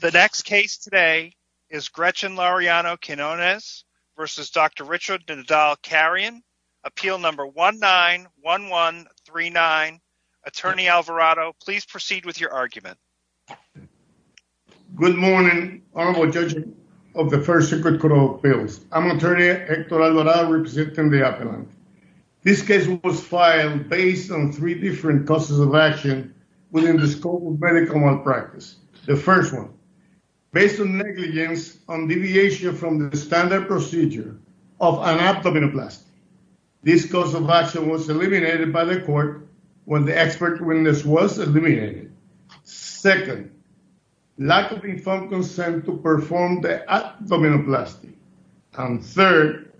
The next case today is Gretchen Laureano-Quinones versus Dr. Richard Nadal-Carrion. Appeal number 191139. Attorney Alvarado, please proceed with your argument. Good morning honorable judges of the first secret court of appeals. I'm attorney Hector Alvarado representing the appellant. This case was filed based on three different causes of action within the scope of medical malpractice. The first one, based on negligence on deviation from the standard procedure of an abdomenoplasty. This cause of action was eliminated by the court when the expert witness was eliminated. Second, lack of informed consent to perform the abdomenoplasty. And third,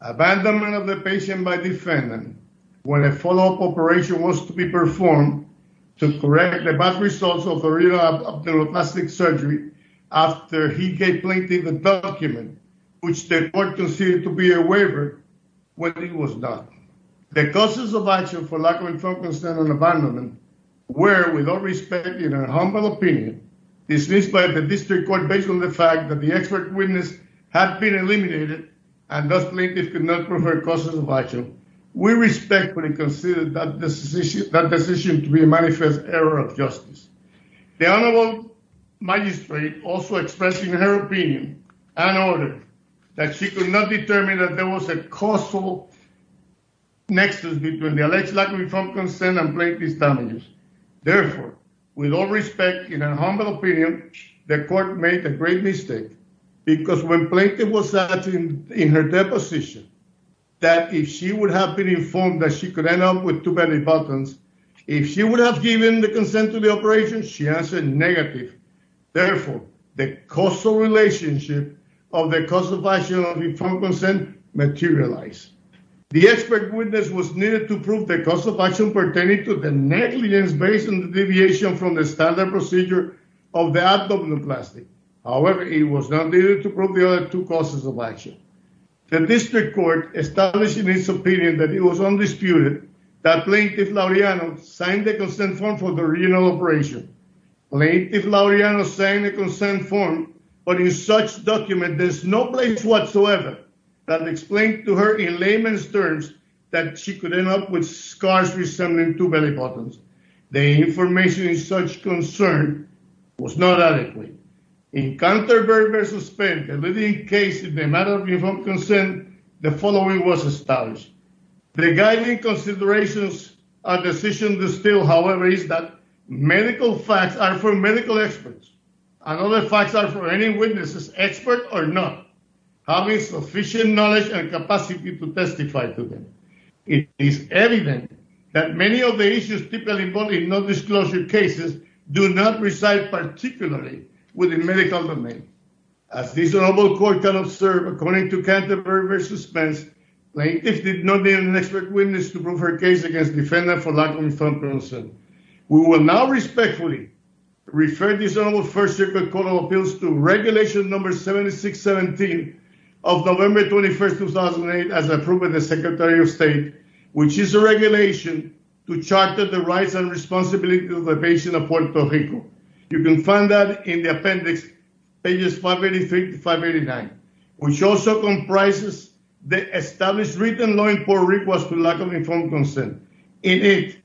abandonment of the patient by defendant when a follow-up operation was to be performed to correct the bad results of a real abdomenoplastic surgery after he gave plaintiff a document which the court considered to be a waiver when it was not. The causes of action for lack of informed consent and abandonment were, with all respect, in our humble opinion, dismissed by the district court based on the fact that the expert witness had been eliminated and plaintiff could not prove her causes of action. We respectfully consider that decision to be a manifest error of justice. The honorable magistrate also expressed in her opinion and order that she could not determine that there was a causal nexus between the alleged lack of informed consent and plaintiff's damages. Therefore, with all respect, in our humble opinion, the court made a great mistake because when plaintiff was asked in her deposition that if she would have been informed that she could end up with too many buttons, if she would have given the consent to the operation, she answered negative. Therefore, the causal relationship of the cause of action of informed consent materialized. The expert witness was needed to prove the cause of action pertaining to the negligence based on the deviation from the standard procedure of the abdominoplasty. However, it was not needed to prove the other two causes of action. The district court established in its opinion that it was undisputed that plaintiff Lauriano signed the consent form for the original operation. Plaintiff Lauriano signed the consent form, but in such document there's no place whatsoever that explained to her in layman's terms that she could end up with scars resembling two belly buttons. The information in such concern was not adequate. In counter-verbal suspense, a living case in the matter of informed consent, the following was established. Regarding considerations, a decision distilled, however, is that medical facts are for medical experts and other facts are for any witnesses, expert or not, having sufficient knowledge and non-disclosure cases do not reside particularly within medical domain. As this honorable court can observe, according to counter-verbal suspense, plaintiff did not need an expert witness to prove her case against defendant for lack of informed consent. We will now respectfully refer this honorable first circuit court of appeals to regulation number 7617 of November 21st, 2008, as approved by the Secretary of State, which is a regulation to charter the rights and responsibilities of the patient of Puerto Rico. You can find that in the appendix, pages 585 to 589, which also comprises the established written law in Puerto Rico as to lack of informed consent. In it,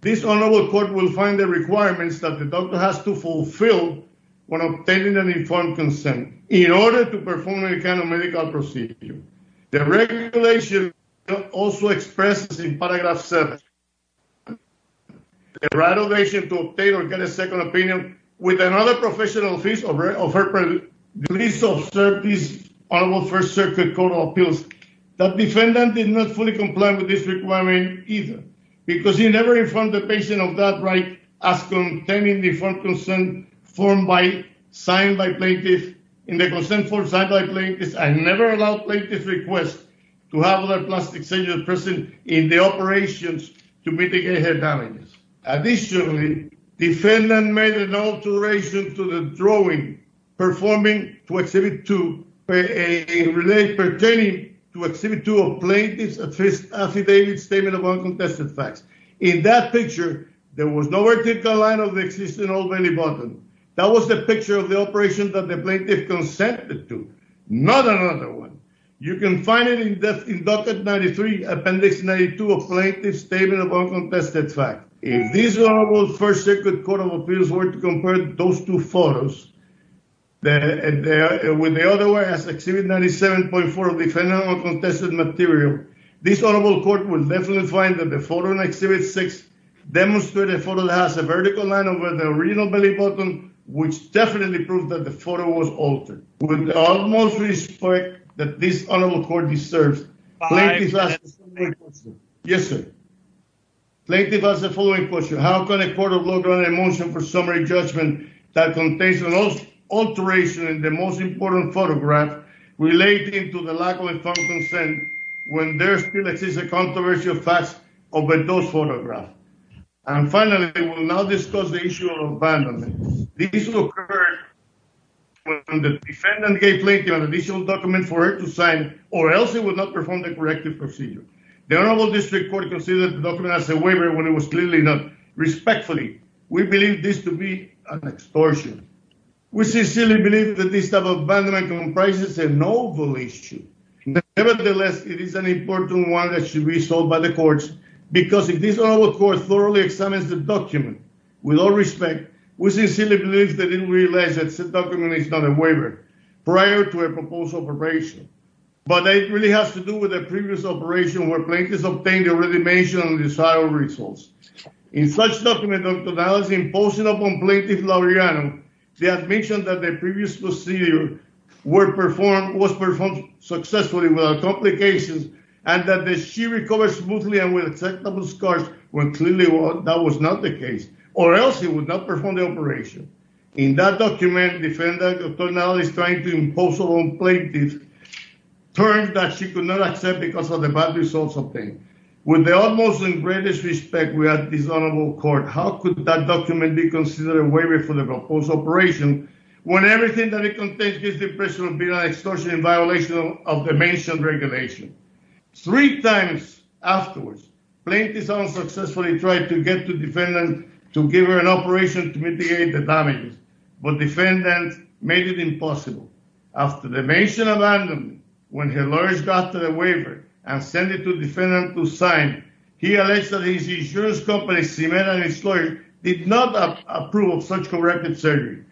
this honorable court will find the requirements that the doctor has to fulfill when obtaining an informed consent in order to perform any kind of medical procedure. The regulation also expresses in paragraph 7, the right of patient to obtain or get a second opinion with another professional piece of her release of service honorable first circuit court of appeals that defendant did not fully comply with this requirement either because he never informed the patient of that right as contained in the informed consent form signed by plaintiff. In the consent form signed by plaintiff, I never allowed plaintiff's request to have a plastic surgeon present in the operations to mitigate her damages. Additionally, defendant made an alteration to the drawing performing to exhibit to a relate pertaining to exhibit to a plaintiff's affidavit statement of uncontested facts. In that picture, there was no vertical line of existence of any button. That was the picture of the operation that the plaintiff consented to, not another one. You can find it in the inducted 93, appendix 92 of plaintiff's statement of uncontested fact. If these honorable first circuit court of appeals were to compare those two photos, and there with the other one as exhibit 97.4 of defendant uncontested material, this honorable court will definitely find that the photo in exhibit six demonstrated a photo that has a vertical line over the original belly button, which definitely proved that the photo was altered. With the utmost respect that this honorable court deserves. Yes, sir. Plaintiff has the following question. How can a court of law grant a motion for summary judgment that contains an alteration in the most important photograph relating to the lack of informed consent when there still exists a controversy of facts over those photographs? And finally, we will now discuss the issue of abandonment. This will occur when the defendant gave plaintiff an additional document for her to sign, or else it would not perform the corrective procedure. The honorable district court considered the document as a waiver when it was clearly not. Respectfully, we believe this to be an extortion. We sincerely believe that this type of abandonment comprises a novel issue. Nevertheless, it is an important one that should be solved by the courts, because if this honorable court thoroughly examines the document, with all respect, we sincerely believe they didn't realize that said document is not a waiver prior to a proposed operation. But it really has to do with the previous operation where plaintiffs obtained the already mentioned and desired results. In such document, imposing upon plaintiff Laureano, the admission that the previous procedure was performed successfully without complications, and that she recovered smoothly and with acceptable scars, when clearly that was not the case, or else it would not perform the operation. In that document, defendant attorney is trying to impose on plaintiff terms that she could not accept because of the bad results obtained. With the utmost and greatest respect, we ask this honorable court, how could that document be when everything that it contains gives the impression of being an extortion in violation of the mentioned regulation? Three times afterwards, plaintiff unsuccessfully tried to get to defendant to give her an operation to mitigate the damages, but defendant made it impossible. After the mention of abandonment, when her lawyers got to the waiver and send it to defendant to sign, he alleged that his insurance company did not approve of such corrective surgery.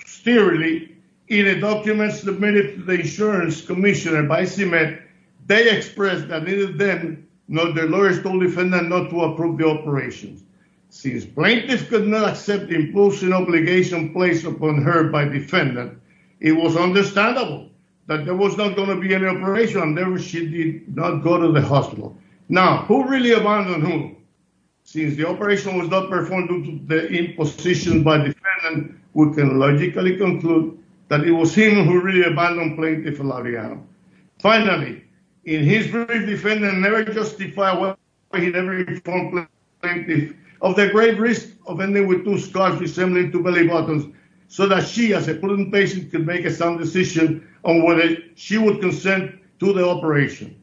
Posteriorly, in a document submitted to the insurance commissioner by cement, they expressed that neither them nor their lawyers told defendant not to approve the operations. Since plaintiff could not accept the imposing obligation placed upon her by defendant, it was understandable that there was not going to be any operation and therefore she did not go to the hospital. Now, who really abandoned who? Since the operation was not performed due to the imposition by defendant, we can logically conclude that it was him who really abandoned plaintiff Laviano. Finally, in his brief, defendant never justified why he never informed plaintiff of the great risk of ending with two scars resembling two belly buttons so that she, as a potent patient, could make a sound decision on whether she would consent to the operation.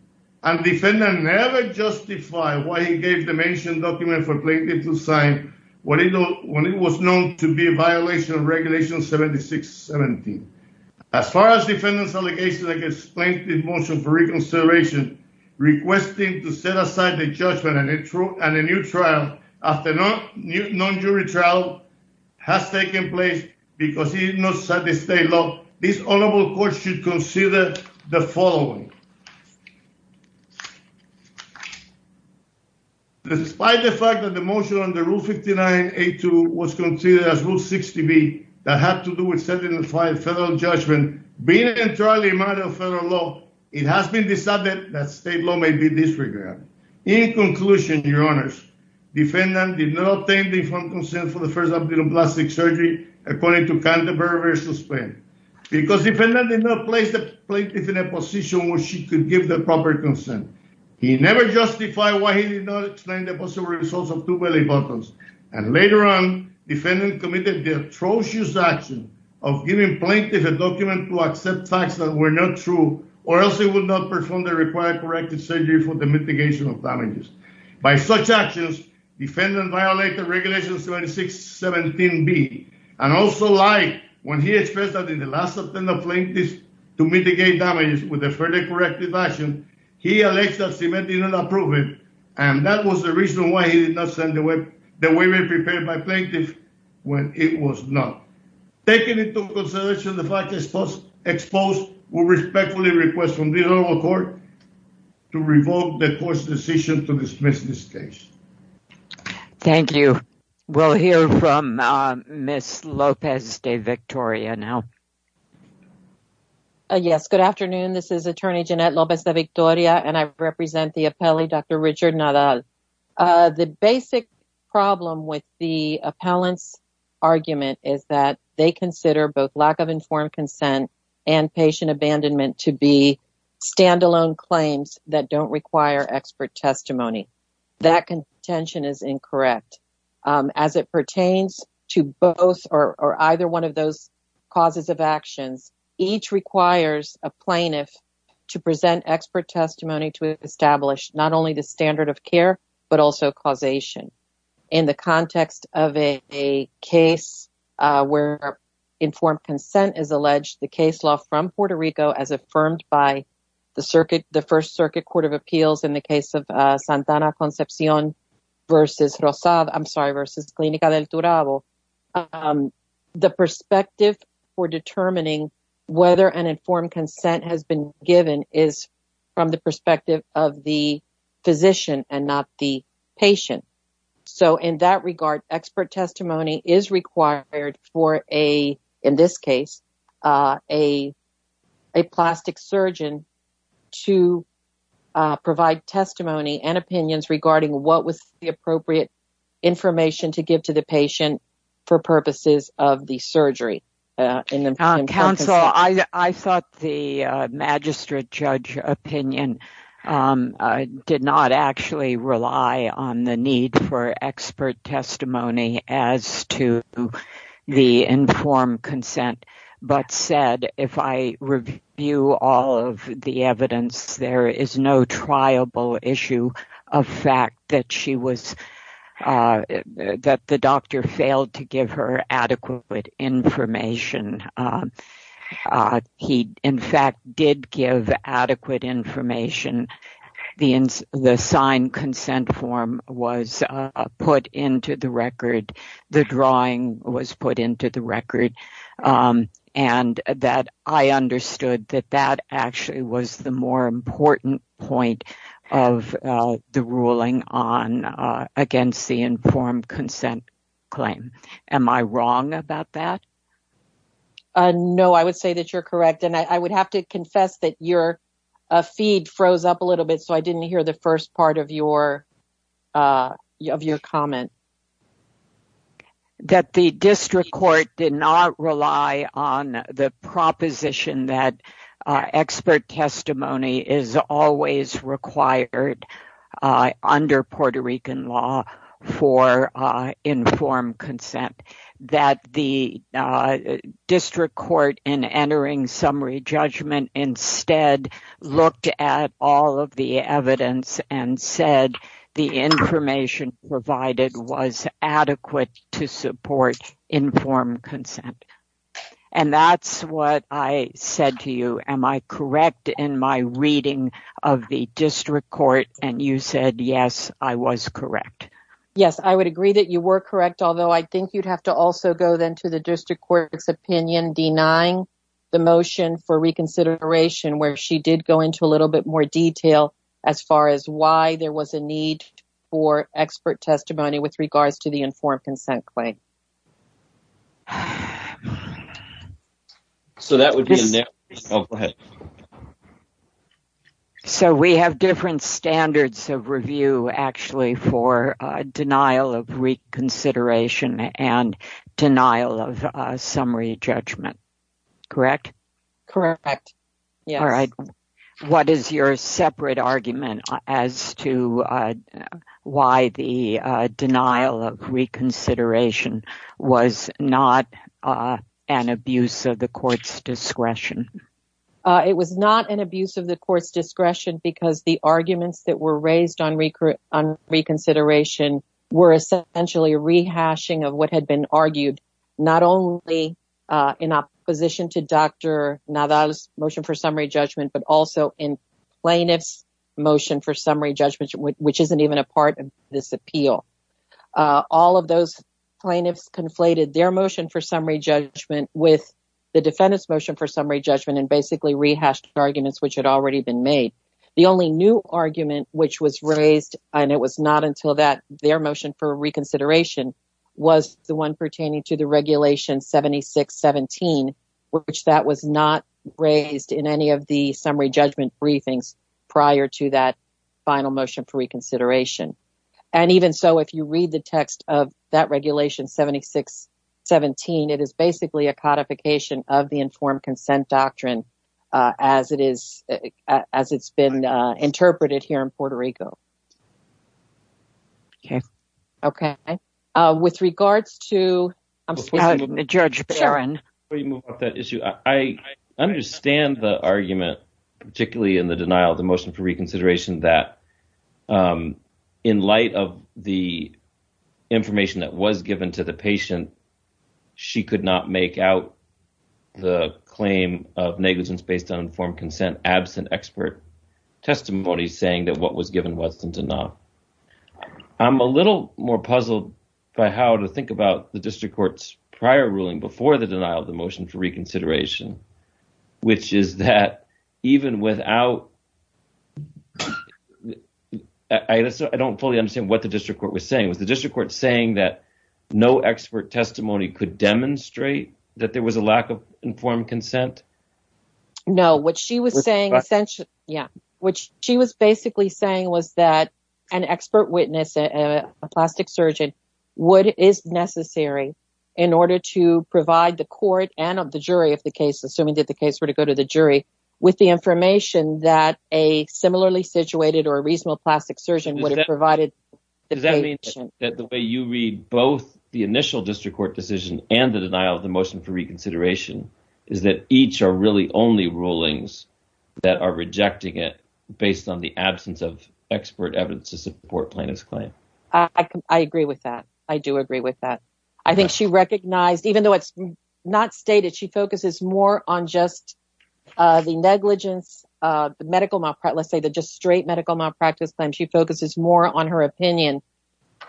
And defendant never justified why he gave the mentioned document for plaintiff to sign when it was known to be a violation of regulation 7617. As far as defendant's allegations against plaintiff's motion for reconservation, requesting to set aside the judgment and a new trial after non-jury trial has taken place because he did not satisfy the state law, this honorable court should consider the following. Despite the fact that the motion under Rule 59A2 was considered as Rule 60B that had to do with setting aside federal judgment, being entirely a matter of federal law, it has been decided that state law may be disregarded. In conclusion, your honors, defendant did not obtain the informed consent for the first abdominal plastic surgery according to Canterbury versus Penn because defendant did not place the plaintiff in a position where she could give the proper consent. He never justified why he did not explain the possible results of two belly buttons and later on defendant committed the atrocious action of giving plaintiff a document to accept facts that were not true or else he would not perform the required corrective surgery for the mitigation of damages. By such actions, defendant violated regulation 7617B and also lied when he expressed that in the last attempt of plaintiff to mitigate damages with a further corrective action, he alleged that cement did not approve it and that was the reason why he did not send the women prepared by plaintiff when it was not. Taking into consideration the fact exposed, we respectfully request from the court to revoke the court's decision to dismiss this case. Thank you. We'll hear from Ms. Lopez de Victoria now. Yes, good afternoon. This is attorney Jeanette Lopez de Victoria and I represent the appellee Dr. Richard Nadal. The basic problem with the appellant's argument is that they consider both informed consent and patient abandonment to be standalone claims that don't require expert testimony. That contention is incorrect. As it pertains to both or either one of those causes of actions, each requires a plaintiff to present expert testimony to establish not only the standard of care but also causation. In the context of a case where informed consent is alleged, the case law from Puerto Rico as affirmed by the first circuit court of appeals in the case of Santana Concepcion versus Rosado, I'm sorry, versus Clinica del Turabo, the perspective for determining whether an informed consent has been given is from the perspective of the physician and not the patient. So, in that regard, expert testimony is required for a, in this case, a plastic surgeon to provide testimony and opinions regarding what was the appropriate information to give to the patient for purposes of the surgery. Counsel, I thought the magistrate judge opinion did not actually rely on the need for expert testimony as to the informed consent, but said if I review all of the evidence, there is no issue of fact that the doctor failed to give her adequate information. He, in fact, did give adequate information. The signed consent form was put into the record. The drawing was put into the record. I understood that that actually was the more important point of the ruling on against the informed consent claim. Am I wrong about that? No, I would say that you're correct, and I would have to confess that your feed froze up a little bit, so I didn't hear the first part of your comment. Okay. That the district court did not rely on the proposition that expert testimony is always required under Puerto Rican law for informed consent. That the district court, in entering summary judgment, instead looked at all of the evidence and said the information provided was adequate to support informed consent, and that's what I said to you. Am I correct in my reading of the district court, and you said, yes, I was correct? Yes, I would agree that you were correct, although I think you'd have to also go then to the district court's opinion denying the motion for reconsideration, where she did go into a little bit more detail as far as why there was a need for expert testimony with regards to the informed consent claim. So, that would be a no. Oh, go ahead. So, we have different standards of review, actually, for denial of reconsideration and denial of summary judgment, correct? Correct, yes. All right. What is your separate argument as to why the denial of reconsideration was not an abuse of the court's discretion? It was not an abuse of the court's discretion because the arguments that were raised on reconsideration were essentially rehashing of what had been argued, not only in opposition to Dr. Nadal's motion for summary judgment, but also in plaintiff's motion for summary judgment, which isn't even a part of this appeal. All of those plaintiffs conflated their motion for summary judgment with the defendant's motion summary judgment and basically rehashed arguments which had already been made. The only new argument which was raised, and it was not until their motion for reconsideration, was the one pertaining to the regulation 7617, which that was not raised in any of the summary judgment briefings prior to that final motion for reconsideration. And even so, if you read the text of that regulation 7617, it is basically a codification of the informed consent doctrine as it's been interpreted here in Puerto Rico. Okay. Okay. With regards to... Judge Barron. Before you move up that issue, I understand the argument, particularly in the denial of the motion for reconsideration, that in light of the information that was given to the patient, she could not make out the claim of negligence based on informed consent absent expert testimony saying that what was given wasn't enough. I'm a little more puzzled by how to think about the district court's prior ruling before the I don't fully understand what the district court was saying. Was the district court saying that no expert testimony could demonstrate that there was a lack of informed consent? No. What she was saying essentially... Yeah. What she was basically saying was that an expert witness, a plastic surgeon, what is necessary in order to provide the court and the jury of the case, assuming that the case were to go to the jury, with the information that a provided... Does that mean that the way you read both the initial district court decision and the denial of the motion for reconsideration is that each are really only rulings that are rejecting it based on the absence of expert evidence to support plaintiff's claim? I agree with that. I do agree with that. I think she recognized, even though it's not stated, she focuses more on just the negligence, the medical malpractice, let's say the just straight medical malpractice claim, she focuses more on her opinion.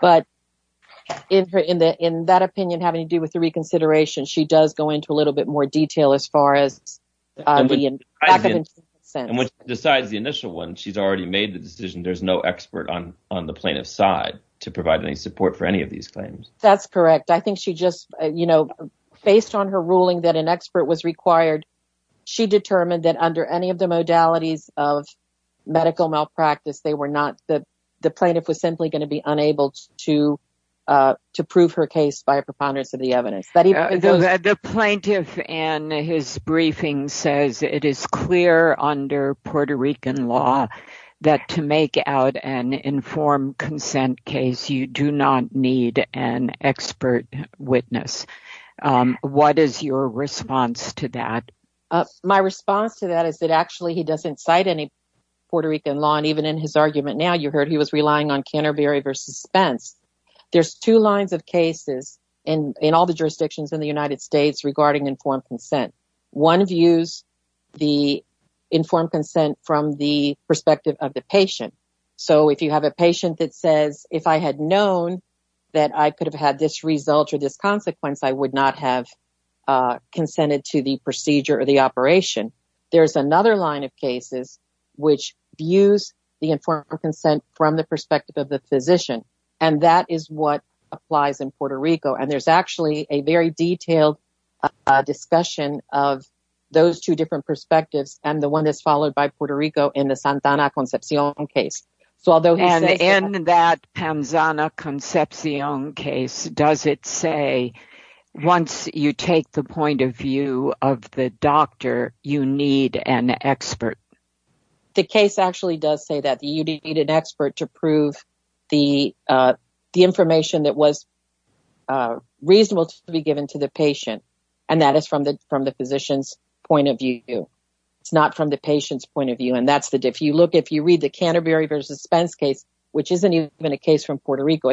But in that opinion having to do with the reconsideration, she does go into a little bit more detail as far as the lack of informed consent. And when she decides the initial one, she's already made the decision there's no expert on the plaintiff's side to provide any support for any of these claims. That's correct. I think she just, you know, based on her ruling that an expert was required she determined that under any of the modalities of medical malpractice, the plaintiff was simply going to be unable to prove her case by a preponderance of the evidence. The plaintiff in his briefing says it is clear under Puerto Rican law that to make out an informed consent case, you do not need an expert witness. What is your response to that? My response to that is that actually he doesn't cite any Puerto Rican law and even in his argument now, you heard he was relying on Canterbury versus Spence. There's two lines of cases in all the jurisdictions in the United States regarding informed consent. One views the informed consent from the perspective of the patient. So if you have a patient that says, if I had known that I could have had this result or this consequence, I would not have consented to the procedure or the operation. There's another line of cases which views the informed consent from the perspective of the physician and that is what applies in Puerto Rico. And there's actually a very detailed discussion of those two different perspectives and the one that's followed by Puerto Rico in the Santana Concepcion case. And in that Pamzana Concepcion case, does it say once you take the point of view of the doctor, you need an expert? The case actually does say that you need an expert to prove the information that was reasonable to be given to the patient. And that is from the physician's point of view. It's not from the patient's point of view. And if you look, if you read the Canterbury versus Spence case, which isn't even a case from Puerto Rico,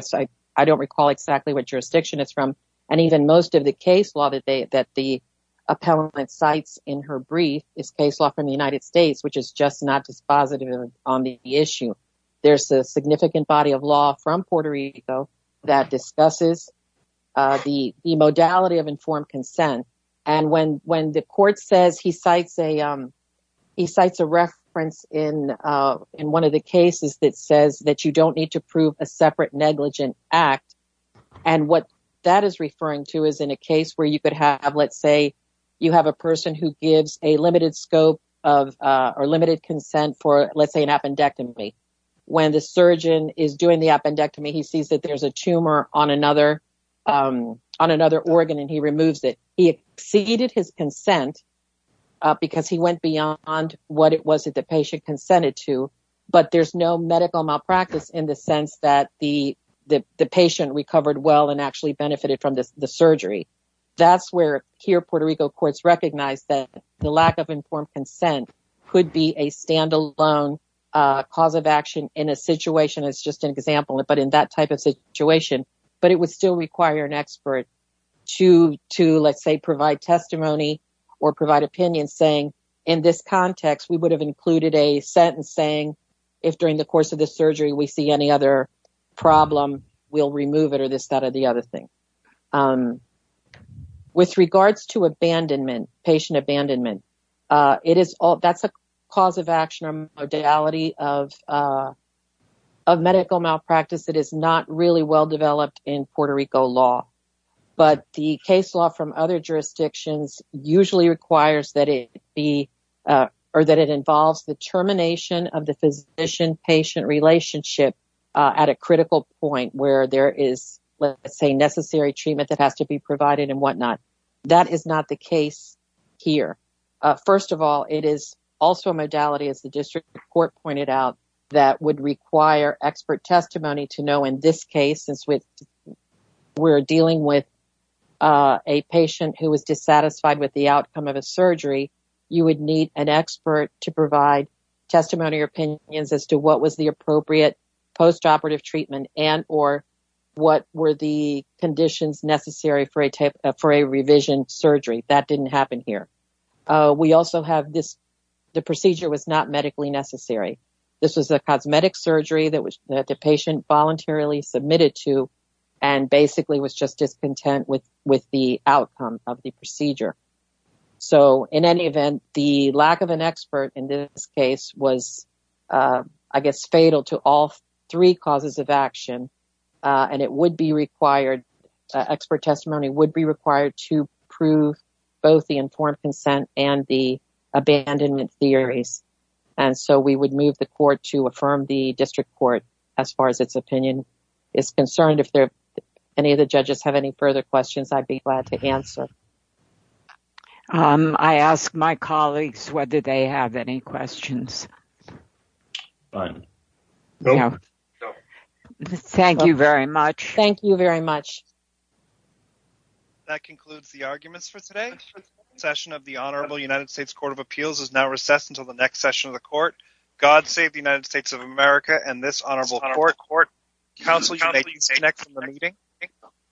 I don't recall exactly what jurisdiction it's from. And even most of the case law that the appellant cites in her brief is case law from the United States, which is just not dispositive on the issue. There's a significant body of law from Puerto Rico that discusses the modality of informed consent. And when the court says he cites a reference in one of the cases that says that you don't need to prove a separate negligent act. And what that is referring to is in a case where you could have, let's say, you have a person who gives a limited scope or limited consent for, let's say, an appendectomy. When the surgeon is doing the appendectomy, he sees that there's a tumor on another organ and he removes it. He exceeded his consent because he went beyond what it was that the patient consented to, but there's no medical malpractice in the sense that the patient recovered well and actually benefited from the surgery. That's where here Puerto Rico courts recognize that the lack of informed consent could be a standalone cause of action in a situation, as just an example, but in that type of situation. But it would still require an expert to, let's say, provide testimony or provide opinions saying in this context, we would have included a sentence saying if during the course of the surgery, we see any other problem, we'll remove it or this, that or the other thing. With regards to abandonment, patient abandonment, that's a cause of action or modality of medical malpractice that is not really well developed in Puerto Rico law. But the case law from other jurisdictions usually requires that it be, or that it involves the termination of the physician-patient relationship at a critical point where there is, let's say, necessary treatment that has to be provided and whatnot. That is not the case here. First of all, it is also a modality as the district court pointed out that would require expert testimony to know in this case, since we're dealing with a patient who was dissatisfied with the outcome of a surgery, you would need an expert to provide testimony or opinions as to what was the appropriate postoperative treatment and or what were the conditions necessary for a revision surgery. That didn't happen here. The procedure was not medically necessary. This was a cosmetic surgery that the patient voluntarily submitted to and basically was just discontent with the outcome of the procedure. In any event, the lack of an expert in this case was, I guess, fatal to all three causes of action and it would be required, expert testimony would be required to prove both the informed consent and the abandonment theories. And so we would move the court to affirm the district court as far as its opinion is concerned. If any of the judges have any further questions, I'd be glad to answer. I asked my colleagues whether they have any questions. Thank you very much. Thank you very much.